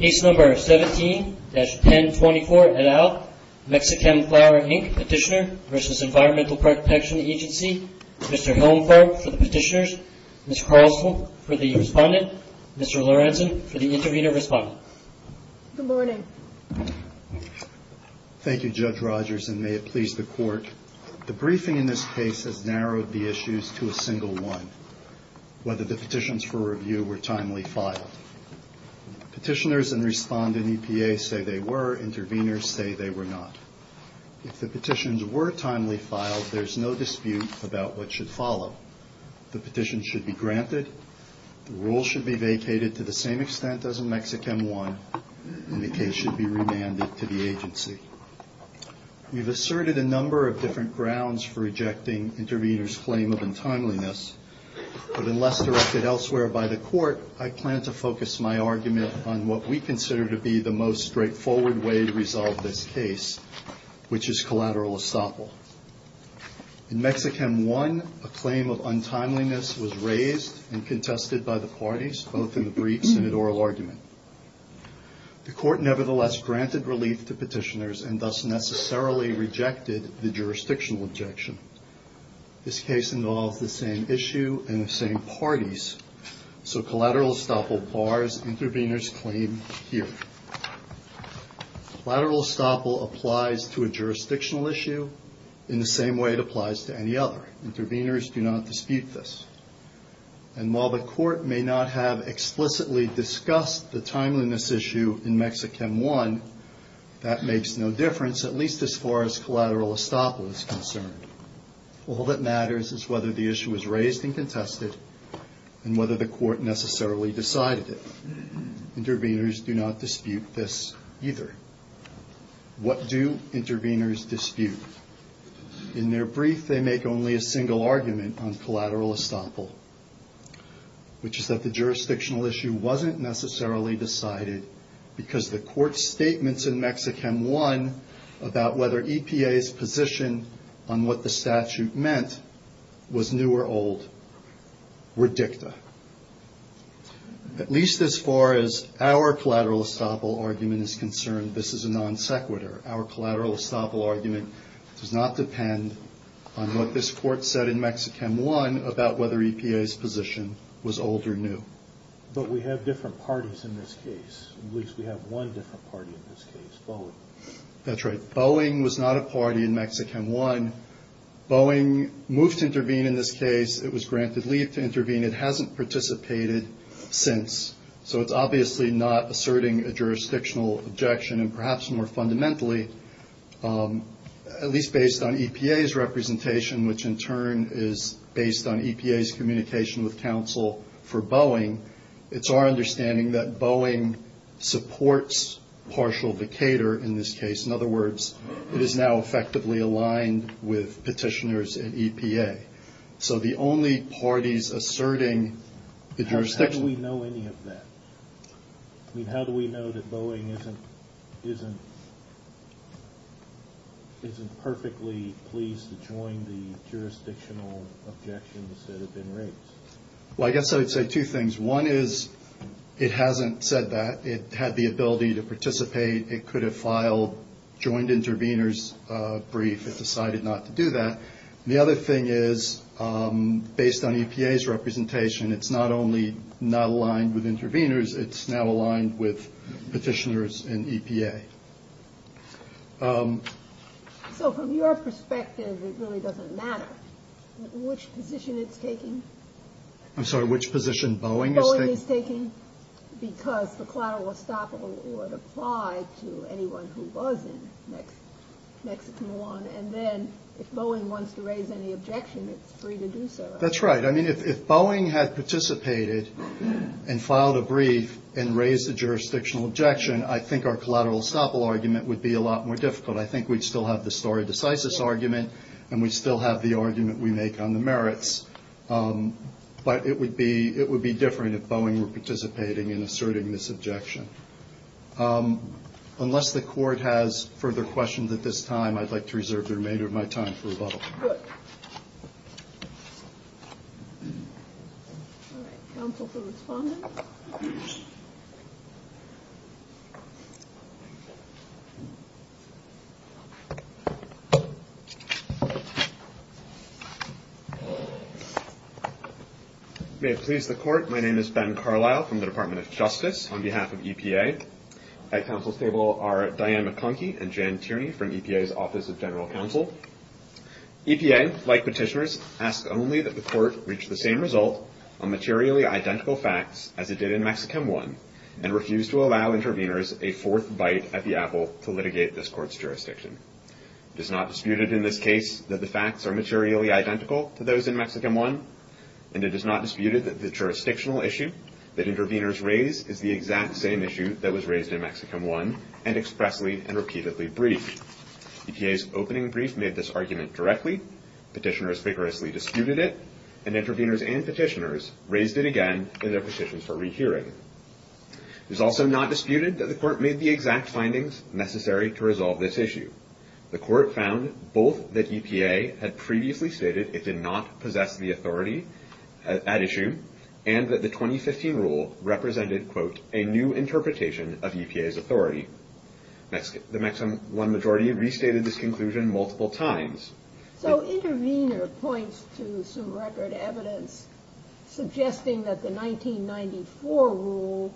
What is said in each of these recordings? Ace Number 17-1024 et al., Michichem Fluor, Inc., Petitioner v. Environmental Protection Agency. Mr. Hillenfarb for the Petitioners. Ms. Carlson for the Respondent. Mr. Lorenzen for the Intervenor Respondent. Good morning. Thank you, Judge Rogers, and may it please the Court. The briefing in this case has narrowed the issues to a single one, whether the petitions for review were timely filed. Petitioners and Respondent EPA say they were. Intervenors say they were not. If the petitions were timely filed, there is no dispute about what should follow. The petition should be granted, the rule should be vacated to the same extent as in Mexichem I, and the case should be remanded to the agency. We have asserted a number of different grounds for rejecting intervenors' claim of untimeliness, but unless directed elsewhere by the Court, I plan to focus my argument on what we consider to be the most straightforward way to resolve this case, which is collateral estoppel. In Mexichem I, a claim of untimeliness was raised and contested by the parties, both in the briefs and in oral argument. The Court nevertheless granted relief to petitioners and thus necessarily rejected the jurisdictional objection. This case involves the same issue and the same parties, so collateral estoppel bars intervenors' claim here. Collateral estoppel applies to a jurisdictional issue in the same way it applies to any other. Intervenors do not dispute this. And while the Court may not have explicitly discussed the timeliness issue in Mexichem I, that makes no difference, at least as far as collateral estoppel is concerned. All that matters is whether the issue was raised and contested, and whether the Court necessarily decided it. Intervenors do not dispute this either. What do intervenors dispute? In their brief, they make only a single argument on collateral estoppel, which is that the jurisdictional issue wasn't necessarily decided because the Court's statements in Mexichem I about whether EPA's position on what the statute meant was new or old were dicta. At least as far as our collateral estoppel argument is concerned, this is a non sequitur. Our collateral estoppel argument does not depend on what this Court said in Mexichem I about whether EPA's position was old or new. But we have different parties in this case. At least we have one different party in this case, Boeing. That's right. Boeing was not a party in Mexichem I. Boeing moved to intervene in this case. It was granted leave to intervene. It hasn't participated since. So it's obviously not asserting a jurisdictional objection, and perhaps more fundamentally, at least based on EPA's representation, which in turn is based on EPA's communication with counsel for Boeing, it's our understanding that Boeing supports partial decatur in this case. In other words, it is now effectively aligned with petitioners at EPA. So the only parties asserting the jurisdiction. How do we know any of that? I mean, how do we know that Boeing isn't perfectly pleased to join the jurisdictional objections that have been raised? Well, I guess I would say two things. One is it hasn't said that. It had the ability to participate. It could have filed joined interveners brief. It decided not to do that. The other thing is, based on EPA's representation, it's not only not aligned with interveners, it's now aligned with petitioners in EPA. So from your perspective, it really doesn't matter which position it's taking. I'm sorry, which position Boeing is taking. Because the collateral estoppel would apply to anyone who was in Mexichem I. And then if Boeing wants to raise any objection, it's free to do so. That's right. I mean, if Boeing had participated and filed a brief and raised a jurisdictional objection, I think our collateral estoppel argument would be a lot more difficult. I think we'd still have the story of decisive argument and we'd still have the argument we make on the merits. But it would be it would be different if Boeing were participating in asserting this objection. Unless the court has further questions at this time, I'd like to reserve the remainder of my time for rebuttal. May it please the court. My name is Ben Carlyle from the Department of Justice on behalf of EPA. At counsel's table are Diane McConkey and Jan Tierney from EPA's Office of General Counsel. EPA, like petitioners, asks only that the court reach the same result on materially identical facts as it did in Mexichem I and refuse to allow interveners a fourth bite at the apple to litigate this court's jurisdiction. It is not disputed in this case that the facts are materially identical to those in Mexichem I, and it is not disputed that the jurisdictional issue that interveners raise is the exact same issue that was raised in Mexichem I and expressly and repeatedly briefed. EPA's opening brief made this argument directly. Petitioners vigorously disputed it, and interveners and petitioners raised it again in their petitions for rehearing. It is also not disputed that the court made the exact findings necessary to resolve this issue. The court found both that EPA had previously stated it did not possess the authority at issue and that the 2015 rule represented, quote, a new interpretation of EPA's authority. The Mexichem I majority restated this conclusion multiple times. So intervener points to some record evidence suggesting that the 1994 rule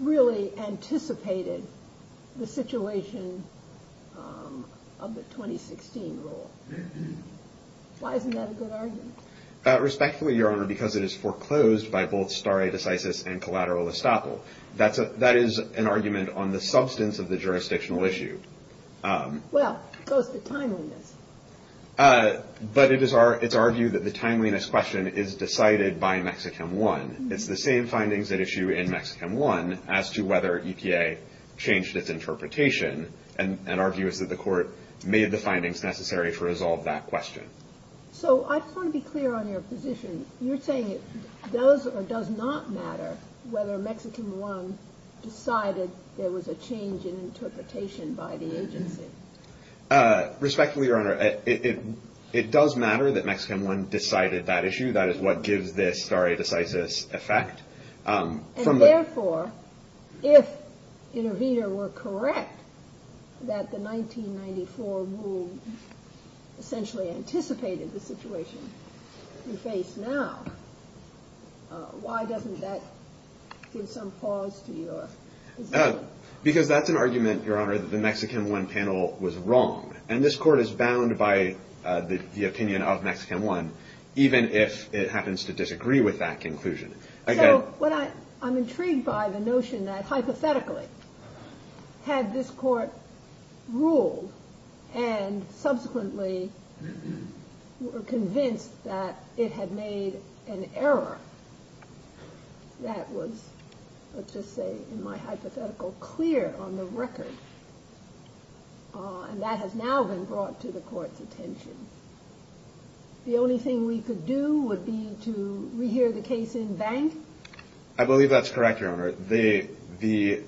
really anticipated the situation of the 2016 rule. Why isn't that a good argument? Respectfully, Your Honor, because it is foreclosed by both stare decisis and collateral estoppel. That is an argument on the substance of the jurisdictional issue. Well, it goes to timeliness. But it is our view that the timeliness question is decided by Mexichem I. It's the same findings at issue in Mexichem I as to whether EPA changed its interpretation, and our view is that the court made the findings necessary to resolve that question. So I just want to be clear on your position. You're saying it does or does not matter whether Mexichem I decided there was a change in interpretation by the agency. Respectfully, Your Honor, it does matter that Mexichem I decided that issue. That is what gives this stare decisis effect. And therefore, if intervener were correct that the 1994 rule essentially anticipated the situation we face now, why doesn't that give some pause to your position? Because that's an argument, Your Honor, that the Mexichem I panel was wrong, and this court is bound by the opinion of Mexichem I even if it happens to disagree with that conclusion. So I'm intrigued by the notion that hypothetically had this court ruled and subsequently were convinced that it had made an error that was, let's just say, in my hypothetical clear on the record, and that has now been brought to the court's attention, the only thing we could do would be to rehear the case in bank? I believe that's correct, Your Honor. The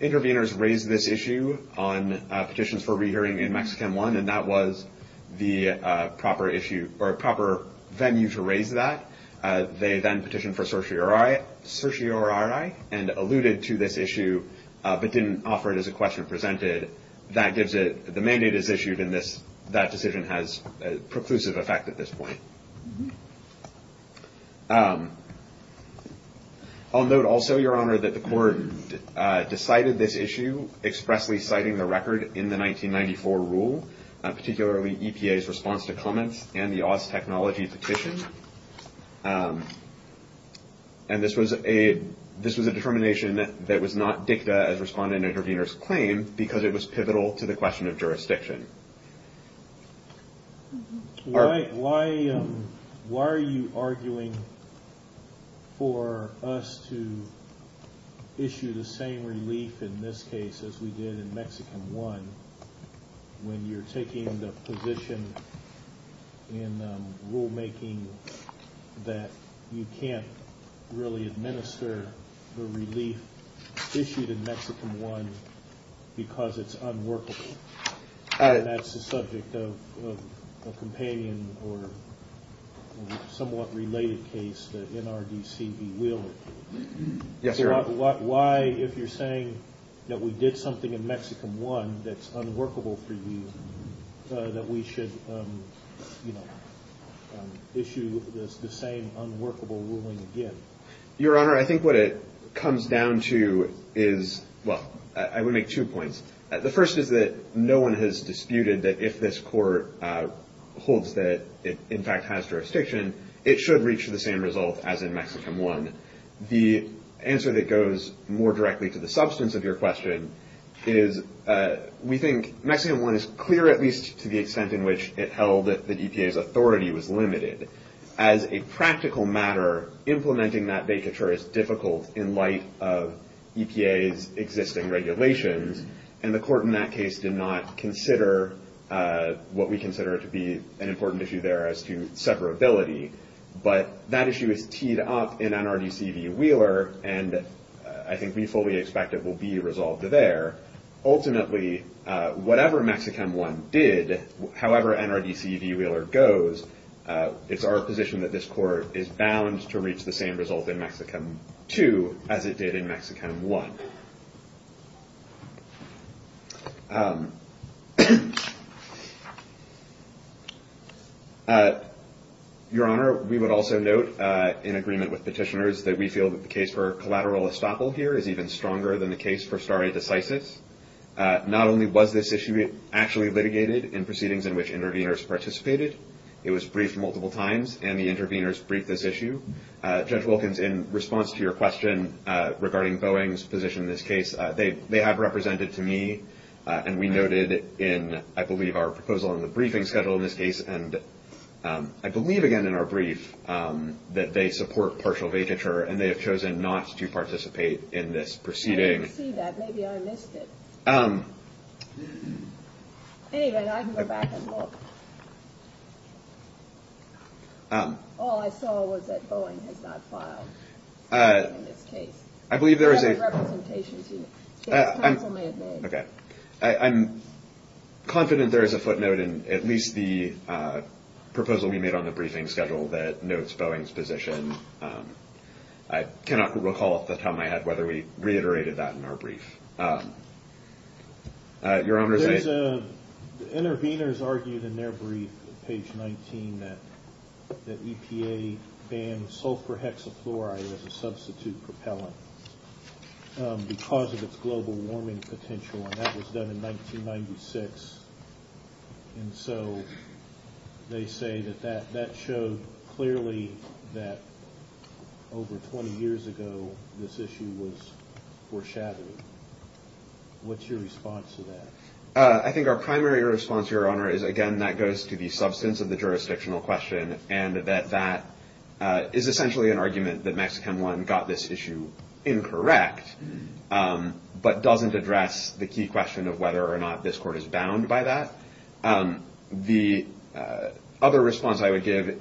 interveners raised this issue on petitions for rehearing in Mexichem I, and that was the proper venue to raise that. They then petitioned for certiorari and alluded to this issue but didn't offer it as a question presented. The mandate is issued, and that decision has a preclusive effect at this point. I'll note also, Your Honor, that the court decided this issue expressly citing the record in the 1994 rule, particularly EPA's response to comments and the Oz Technology petition. And this was a determination that was not dicta as responded in the intervener's claim because it was pivotal to the question of jurisdiction. Why are you arguing for us to issue the same relief in this case as we did in Mexichem I when you're taking the position in rulemaking that you can't really administer the relief issued in Mexichem I because it's unworkable? And that's the subject of a companion or somewhat related case, the NRDC v. Wheeler. Yes, Your Honor. Why, if you're saying that we did something in Mexichem I that's unworkable for you, that we should issue the same unworkable ruling again? Your Honor, I think what it comes down to is, well, I would make two points. The first is that no one has disputed that if this court holds that it in fact has jurisdiction, it should reach the same result as in Mexichem I. And the answer that goes more directly to the substance of your question is we think Mexichem I is clear, at least to the extent in which it held that the EPA's authority was limited. As a practical matter, implementing that vacatur is difficult in light of EPA's existing regulations, and the court in that case did not consider what we consider to be an important issue there as to separability. But that issue is teed up in NRDC v. Wheeler, and I think we fully expect it will be resolved there. Ultimately, whatever Mexichem I did, however NRDC v. Wheeler goes, it's our position that this court is bound to reach the same result in Mexichem II as it did in Mexichem I. Your Honor, we would also note in agreement with petitioners that we feel that the case for collateral estoppel here is even stronger than the case for stare decisis. Not only was this issue actually litigated in proceedings in which interveners participated, it was briefed multiple times, and the interveners briefed this issue. Judge Wilkins, in response to your question regarding Boeing's position in this case, they have represented to me, and we noted in, I believe, our proposal in the briefing schedule in this case, and I believe again in our brief, that they support partial vacatur, and they have chosen not to participate in this proceeding. I didn't see that. Maybe I missed it. Anyway, I can go back and look. All I saw was that Boeing has not filed anything in this case. I believe there is a... I'm confident there is a footnote in at least the proposal we made on the briefing schedule that notes Boeing's position. I cannot recall off the top of my head whether we reiterated that in our brief. Your Honor, there is a... Interveners argued in their brief, page 19, that EPA bans sulfur hexafluoride as a substitute propellant because of its global warming potential, and that was done in 1996. And so they say that that showed clearly that over 20 years ago this issue was foreshadowed. What's your response to that? I think our primary response, Your Honor, is again that goes to the substance of the jurisdictional question and that that is essentially an argument that Mexican I got this issue incorrect, but doesn't address the key question of whether or not this court is bound by that. The other response I would give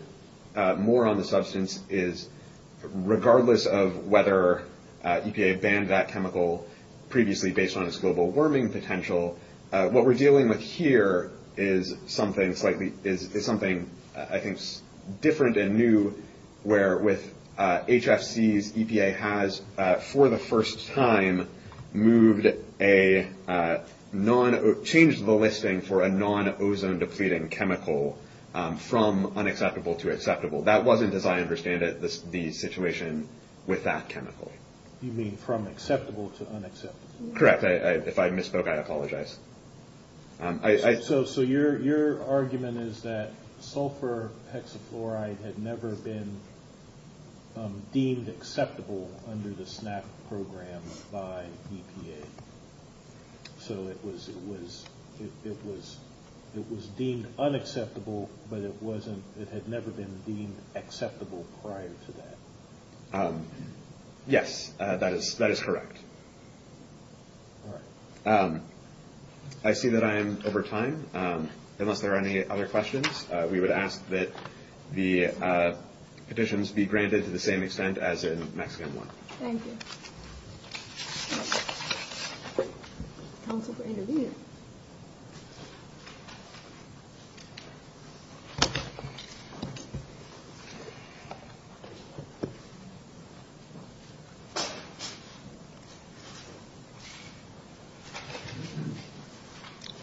more on the substance is, regardless of whether EPA banned that chemical previously based on its global warming potential, what we're dealing with here is something slightly... changed the listing for a non-ozone-depleting chemical from unacceptable to acceptable. That wasn't, as I understand it, the situation with that chemical. You mean from acceptable to unacceptable? Correct. If I misspoke, I apologize. So your argument is that sulfur hexafluoride had never been deemed acceptable under the SNAP program by EPA. So it was deemed unacceptable, but it had never been deemed acceptable prior to that. Yes, that is correct. All right. I see that I am over time. Unless there are any other questions, we would ask that the petitions be granted to the same extent as in Mexican I. Thank you.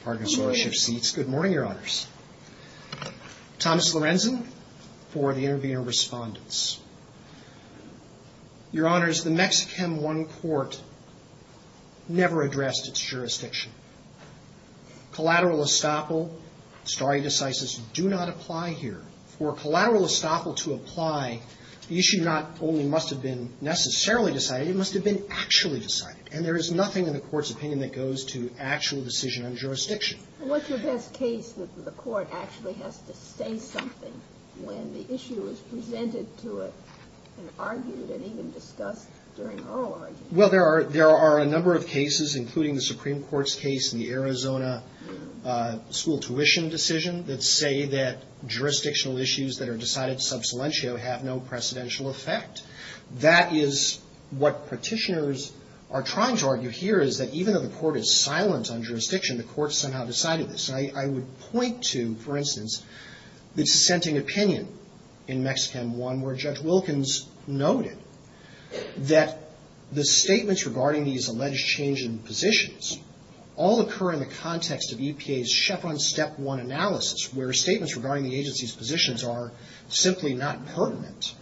Pardon us while I shift seats. Good morning, Your Honors. Thomas Lorenzen for the intervening respondents. Your Honors, the Mexichem I court never addressed its jurisdiction. Collateral estoppel stare decisis do not apply here. For collateral estoppel to apply, the issue not only must have been necessarily decided, it must have been actually decided. And there is nothing in the court's opinion that goes to actual decision on jurisdiction. What's your best case that the court actually has to say something when the issue is presented to it and argued and even discussed during oral argument? Well, there are a number of cases, including the Supreme Court's case in the Arizona school tuition decision, that say that jurisdictional issues that are decided sub salientio have no precedential effect. That is what petitioners are trying to argue here, is that even though the court is silent on jurisdiction, the court somehow decided this. I would point to, for instance, the dissenting opinion in Mexichem I, where Judge Wilkins noted that the statements regarding these alleged change in positions all occur in the context of EPA's Chevron Step 1 analysis, where statements regarding the agency's positions are simply not pertinent.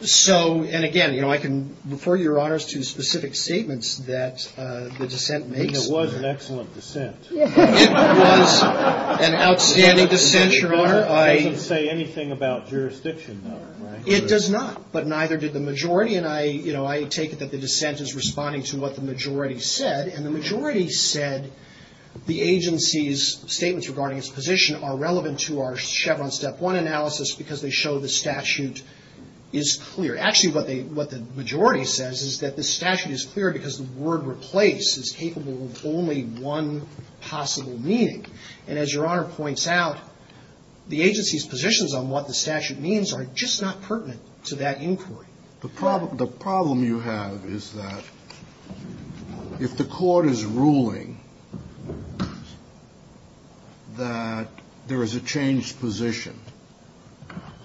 So, and again, I can refer your honors to specific statements that the dissent makes. It was an excellent dissent. It was an outstanding dissent, your honor. It doesn't say anything about jurisdiction, though, right? It does not, but neither did the majority. And I take it that the dissent is responding to what the majority said. And the majority said the agency's statements regarding its position are relevant to our Chevron Step 1 analysis because they show the statute is clear. Actually, what the majority says is that the statute is clear because the word replace is capable of only one possible meaning. And as your honor points out, the agency's positions on what the statute means are just not pertinent to that inquiry. The problem you have is that if the court is ruling that there is a changed position,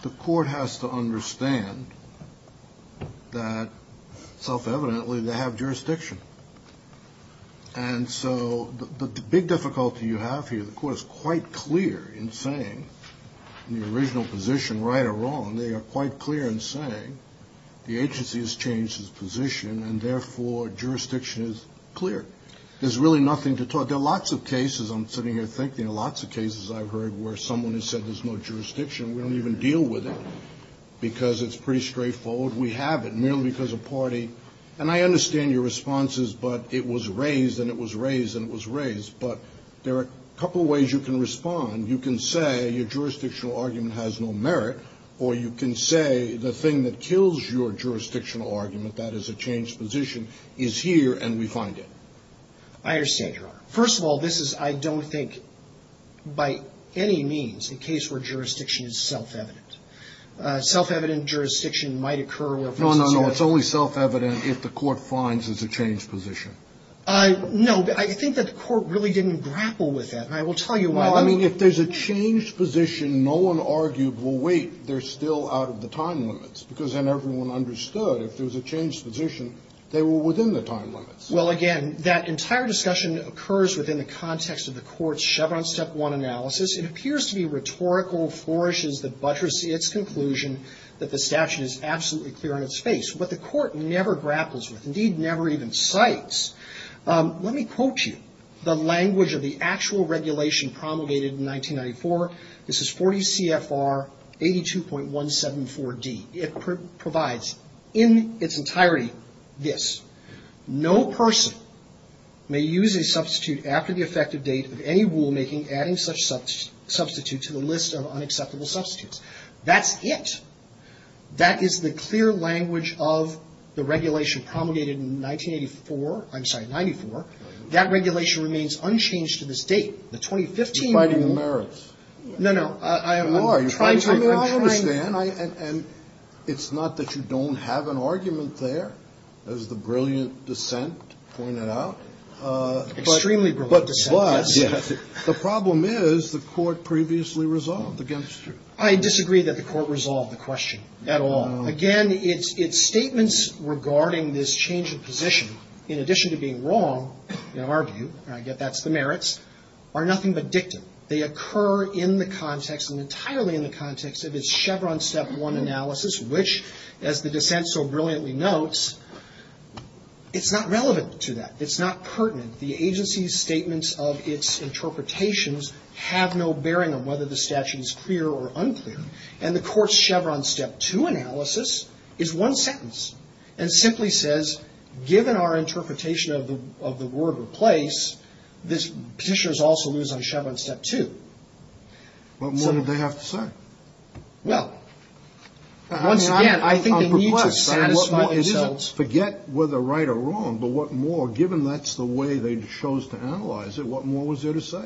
the court has to understand that, self-evidently, they have jurisdiction. And so the big difficulty you have here, the court is quite clear in saying, in the original position, right or wrong, they are quite clear in saying the agency has changed its position and, therefore, jurisdiction is clear. There's really nothing to talk. There are lots of cases, I'm sitting here thinking, lots of cases I've heard where someone has said there's no jurisdiction. We don't even deal with it because it's pretty straightforward. We have it merely because a party, and I understand your responses, but it was raised and it was raised and it was raised. But there are a couple of ways you can respond. You can say your jurisdictional argument has no merit, or you can say the thing that kills your jurisdictional argument, that is a changed position, is here and we find it. I understand, Your Honor. First of all, this is, I don't think, by any means, a case where jurisdiction is self-evident. Self-evident jurisdiction might occur where folks say that. No, no, no. It's only self-evident if the court finds it's a changed position. No, but I think that the court really didn't grapple with that. And I will tell you why. I mean, if there's a changed position, no one argued, well, wait, they're still out of the time limits. Because then everyone understood if there was a changed position, they were within the time limits. Well, again, that entire discussion occurs within the context of the Court's Chevron Step 1 analysis. It appears to be rhetorical flourishes that buttress its conclusion that the statute is absolutely clear on its face. But the Court never grapples with, indeed, never even cites, let me quote you, the language of the actual regulation promulgated in 1994. This is 40 CFR 82.174D. It provides in its entirety this. No person may use a substitute after the effective date of any rulemaking adding such substitute to the list of unacceptable substitutes. That's it. That is the clear language of the regulation promulgated in 1984. I'm sorry, 94. That regulation remains unchanged to this date. The 2015 rule. You're fighting the merits. No, no. I'm trying to understand. And it's not that you don't have an argument there, as the brilliant dissent pointed out. Extremely brilliant dissent, yes. But plus, the problem is the Court previously resolved against you. I disagree that the Court resolved the question at all. Again, its statements regarding this change of position, in addition to being wrong, in our view, and I get that's the merits, are nothing but dictum. They occur in the context and entirely in the context of its Chevron Step 1 analysis, which, as the dissent so brilliantly notes, it's not relevant to that. It's not pertinent. The agency's statements of its interpretations have no bearing on whether the statute is clear or unclear. And the Court's Chevron Step 2 analysis is one sentence and simply says, given our the word replace, petitioners also lose on Chevron Step 2. What more did they have to say? Well, once again, I think they need to satisfy themselves. Forget whether right or wrong, but what more, given that's the way they chose to analyze it, what more was there to say?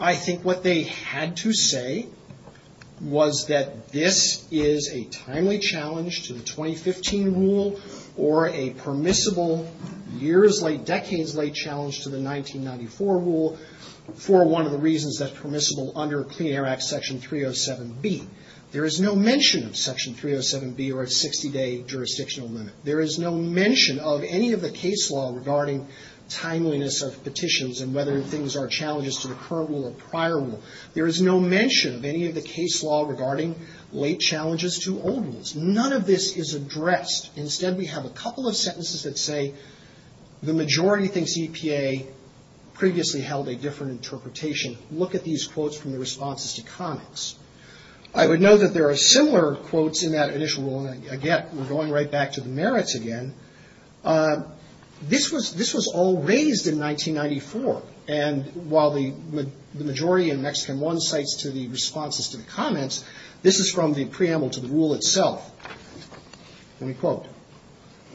I think what they had to say was that this is a timely challenge to the 2015 rule or a permissible years late, decades late challenge to the 1994 rule, for one of the reasons that's permissible under Clean Air Act Section 307B. There is no mention of Section 307B or a 60-day jurisdictional limit. There is no mention of any of the case law regarding timeliness of petitions and whether things are challenges to the current rule or prior rule. There is no mention of any of the case law regarding late challenges to old rules. None of this is addressed. Instead, we have a couple of sentences that say, the majority thinks EPA previously held a different interpretation. Look at these quotes from the responses to comments. I would note that there are similar quotes in that initial rule, and again, we're going right back to the merits again. This was all raised in 1994, and while the majority in Mexican I to the responses to the comments, this is from the preamble to the rule itself. Let me quote.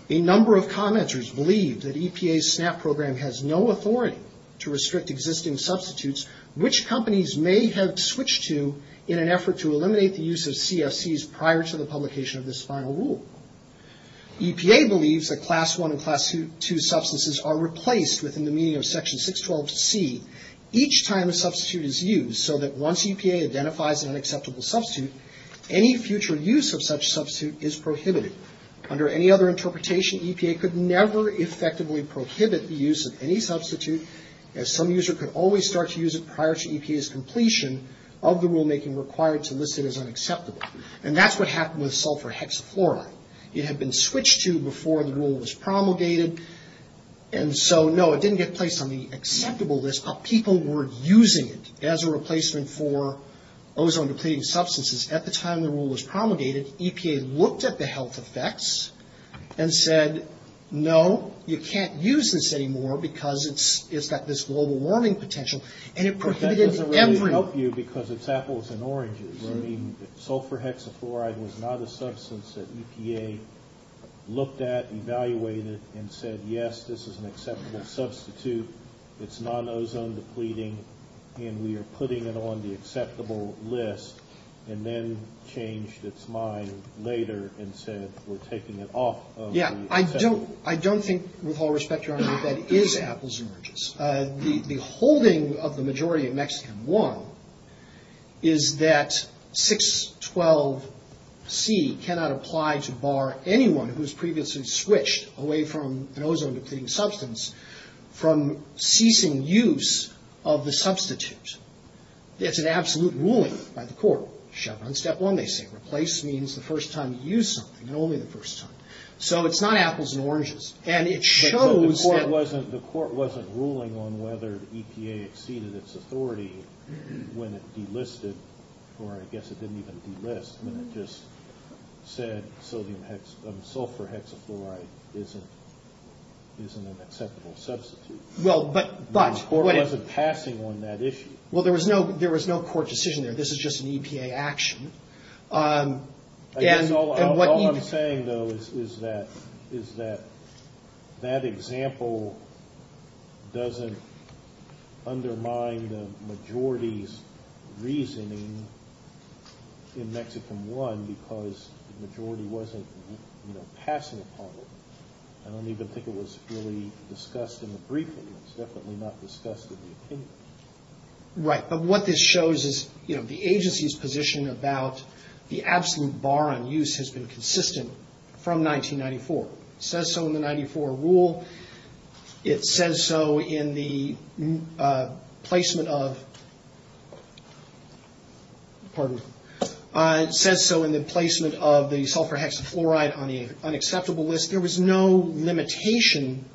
A number of commenters believe that EPA's SNAP program has no authority to restrict existing substitutes, which companies may have switched to in an effort to eliminate the use of CFCs prior to the publication of this final rule. EPA believes that Class I and Class II substances are replaced within the meaning of Section 612C each time a substitute is used, so that once EPA identifies an unacceptable substitute, any future use of such substitute is prohibited. Under any other interpretation, EPA could never effectively prohibit the use of any substitute, as some user could always start to use it prior to EPA's completion of the rulemaking required to list it as unacceptable. And that's what happened with sulfur hexafluoride. It had been switched to before the rule was promulgated, and so, no, it didn't get placed on the acceptable list, but people were using it as a replacement for ozone-depleting substances. At the time the rule was promulgated, EPA looked at the health effects and said, no, you can't use this anymore because it's got this global warming potential, and it prohibited everyone. But that doesn't really help you because it's apples and oranges. I mean, sulfur hexafluoride was not a substance that EPA looked at, evaluated, and said, yes, this is an acceptable substitute. It's non-ozone-depleting, and we are putting it on the acceptable list, and then changed its mind later and said, we're taking it off of the acceptable list. Yeah, I don't think, with all respect, Your Honor, that that is apples and oranges. The holding of the majority of Mexican I is that 612C cannot apply to bar anyone who has previously switched away from an ozone-depleting substance from ceasing use of the substitute. It's an absolute ruling by the court. Chevron, step one, they say. Replace means the first time you use something, and only the first time. So it's not apples and oranges. And it shows that the court wasn't ruling on whether EPA exceeded its authority when it delisted, or I guess it didn't even delist. I mean, it just said sulfur hexafluoride isn't an acceptable substitute. The court wasn't passing on that issue. Well, there was no court decision there. This is just an EPA action. I guess all I'm saying, though, is that that example doesn't undermine the majority's reasoning in Mexican I because the majority wasn't passing upon it. I don't even think it was really discussed in the briefing. It was definitely not discussed in the opinion. Right, but what this shows is, you know, the agency's position about the absolute bar on use has been consistent from 1994. It says so in the 94 rule. It says so in the placement of the sulfur hexafluoride on the unacceptable list. There was no limitation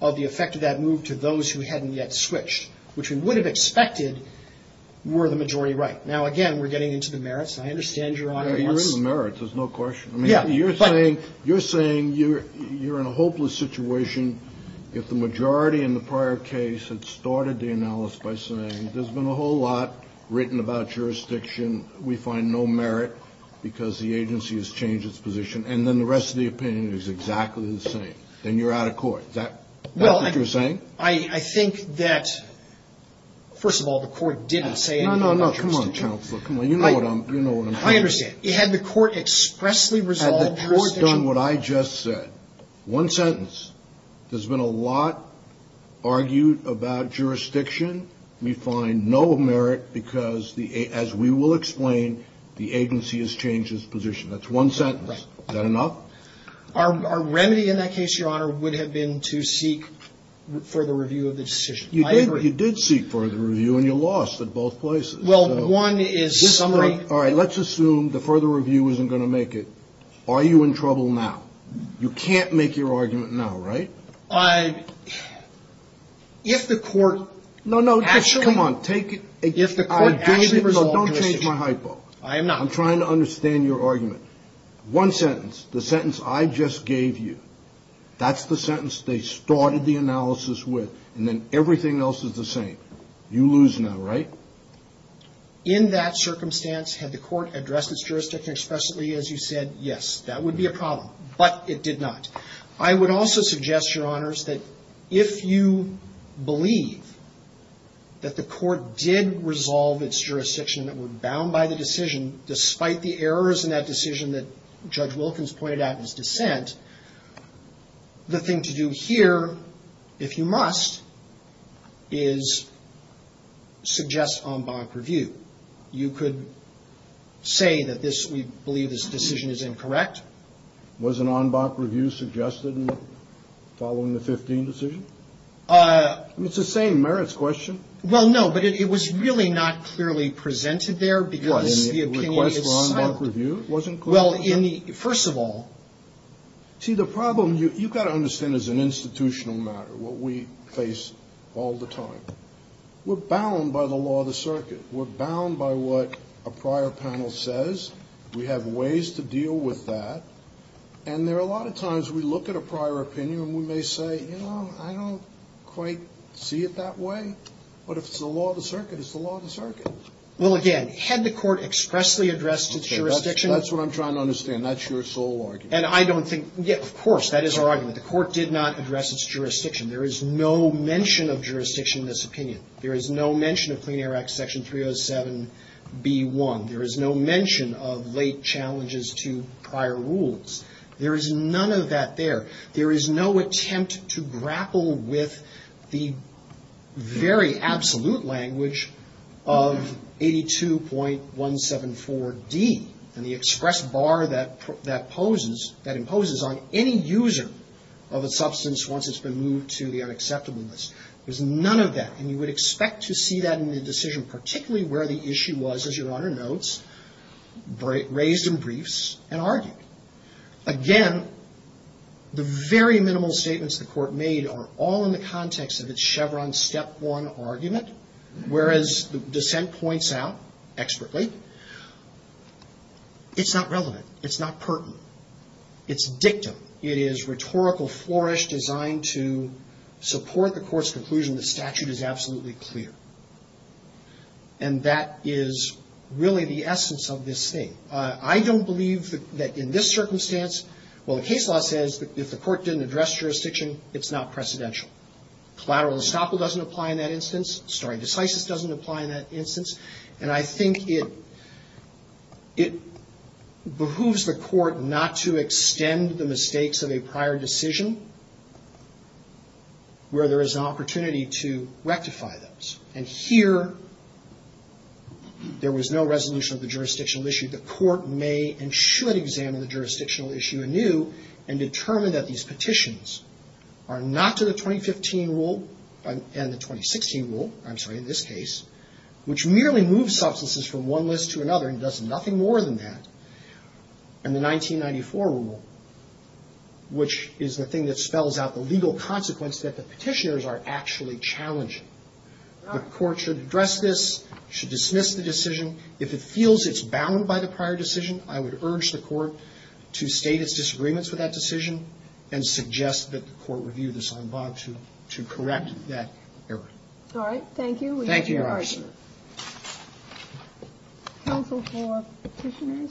of the effect of that move to those who hadn't yet switched, which we would have expected were the majority right. Now, again, we're getting into the merits. I understand Your Honor wants to ---- You're in the merits. There's no question. I mean, you're saying you're in a hopeless situation if the majority in the prior case had started the analysis by saying there's been a whole lot written about jurisdiction, we find no merit because the agency has changed its position, and then the rest of the opinion is exactly the same. Then you're out of court. Is that what you're saying? I think that, first of all, the court didn't say anything about jurisdiction. No, no, no. Come on, Counselor. Come on. You know what I'm saying. I understand. Had the court expressly resolved jurisdiction ---- Had the court done what I just said, one sentence, there's been a lot argued about jurisdiction, we find no merit because, as we will explain, the agency has changed its position. That's one sentence. Right. Is that enough? Our remedy in that case, Your Honor, would have been to seek further review of the decision. I agree. You did seek further review, and you lost in both places. Well, one is summary ---- All right. Let's assume the further review isn't going to make it. Are you in trouble now? You can't make your argument now, right? If the court actually ---- No, no. Come on. Take it ---- If the court actually resolved jurisdiction ---- Don't change my hypo. I am not. I'm trying to understand your argument. One sentence, the sentence I just gave you, that's the sentence they started the analysis with, and then everything else is the same. You lose now, right? In that circumstance, had the court addressed its jurisdiction expressly as you said, yes, that would be a problem. But it did not. I would also suggest, Your Honors, that if you believe that the court did resolve its jurisdiction and that we're bound by the decision, despite the errors in that decision that Judge Wilkins pointed out in his dissent, the thing to do here, if you must, is suggest en banc review. You could say that this ---- we believe this decision is incorrect. Was an en banc review suggested following the 15 decision? It's the same merits question. Well, no, but it was really not clearly presented there because the opinion is ---- The request for en banc review wasn't clear? Well, first of all ---- See, the problem you've got to understand is an institutional matter, what we face all the time. We're bound by the law of the circuit. We're bound by what a prior panel says. We have ways to deal with that. And there are a lot of times we look at a prior opinion and we may say, you know, I don't quite see it that way. But if it's the law of the circuit, it's the law of the circuit. Well, again, had the Court expressly addressed its jurisdiction ---- That's what I'm trying to understand. That's your sole argument. And I don't think ---- Of course, that is our argument. The Court did not address its jurisdiction. There is no mention of jurisdiction in this opinion. There is no mention of Clean Air Act Section 307b1. There is no mention of late challenges to prior rules. There is none of that there. There is no attempt to grapple with the very absolute language of 82.174d and the express bar that poses ---- that imposes on any user of a substance once it's been moved to the unacceptable list. There's none of that. And you would expect to see that in the decision, particularly where the issue was, as Your Honor notes, raised in briefs and argued. Again, the very minimal statements the Court made are all in the context of its Chevron Step 1 argument, whereas the dissent points out expertly, it's not relevant. It's not pertinent. It's dictum. It is rhetorical flourish designed to support the Court's conclusion the statute is absolutely clear. And that is really the essence of this thing. I don't believe that in this circumstance, well, the case law says if the Court didn't address jurisdiction, it's not precedential. Collateral estoppel doesn't apply in that instance. Stare decisis doesn't apply in that instance. And I think it behooves the Court not to extend the mistakes of a prior decision where there is an opportunity to rectify those. And here there was no resolution of the jurisdictional issue. The Court may and should examine the jurisdictional issue anew and determine that these petitions are not to the And the 1994 rule, which is the thing that spells out the legal consequence, that the Petitioners are actually challenging. The Court should address this, should dismiss the decision. If it feels it's bound by the prior decision, I would urge the Court to state its disagreements with that decision and suggest that the Court review this en bas to correct that error. All right. Thank you. Thank you, Your Honor. Counsel for Petitioners?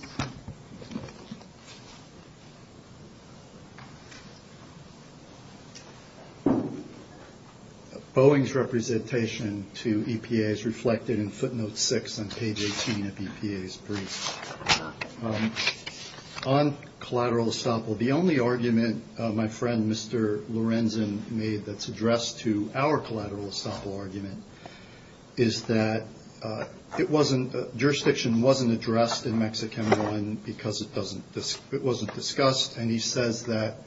Boeing's representation to EPA is reflected in footnote 6 on page 18 of EPA's brief. On collateral estoppel, the only argument my friend Mr. Lorenzen made that's addressed to our collateral estoppel argument is that jurisdiction wasn't addressed in Mexican I because it wasn't discussed. And he says that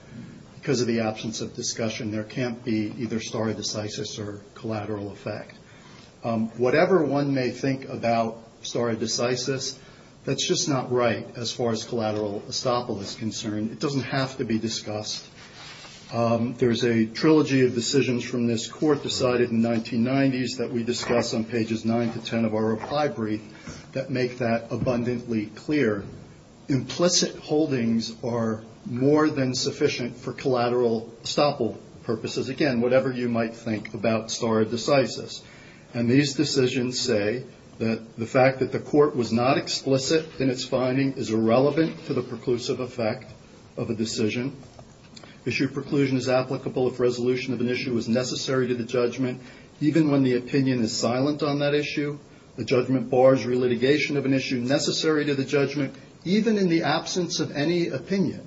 because of the absence of discussion, there can't be either stare decisis or collateral effect. Whatever one may think about stare decisis, that's just not right as far as collateral estoppel is concerned. There's a trilogy of decisions from this Court decided in 1990s that we discuss on pages 9 to 10 of our reply brief that make that abundantly clear. Implicit holdings are more than sufficient for collateral estoppel purposes. Again, whatever you might think about stare decisis. And these decisions say that the fact that the Court was not explicit in its finding is irrelevant to the preclusive effect of a decision. Issue preclusion is applicable if resolution of an issue is necessary to the judgment, even when the opinion is silent on that issue. The judgment bars relitigation of an issue necessary to the judgment, even in the absence of any opinion.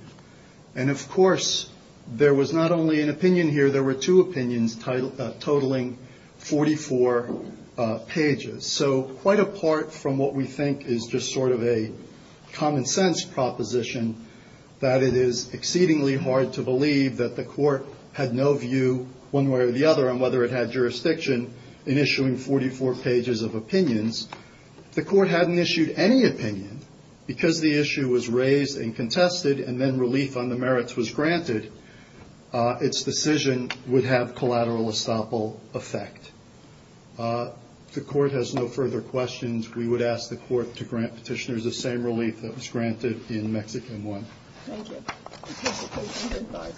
And, of course, there was not only an opinion here. There were two opinions totaling 44 pages. So quite apart from what we think is just sort of a common sense proposition, that it is exceedingly hard to believe that the Court had no view one way or the other on whether it had jurisdiction in issuing 44 pages of opinions. If the Court hadn't issued any opinion, because the issue was raised and contested and then relief on the merits was granted, its decision would have collateral estoppel effect. If the Court has no further questions, we would ask the Court to grant petitioners the same relief that was granted in Mexican I. Thank you. Petitioner, please stand by.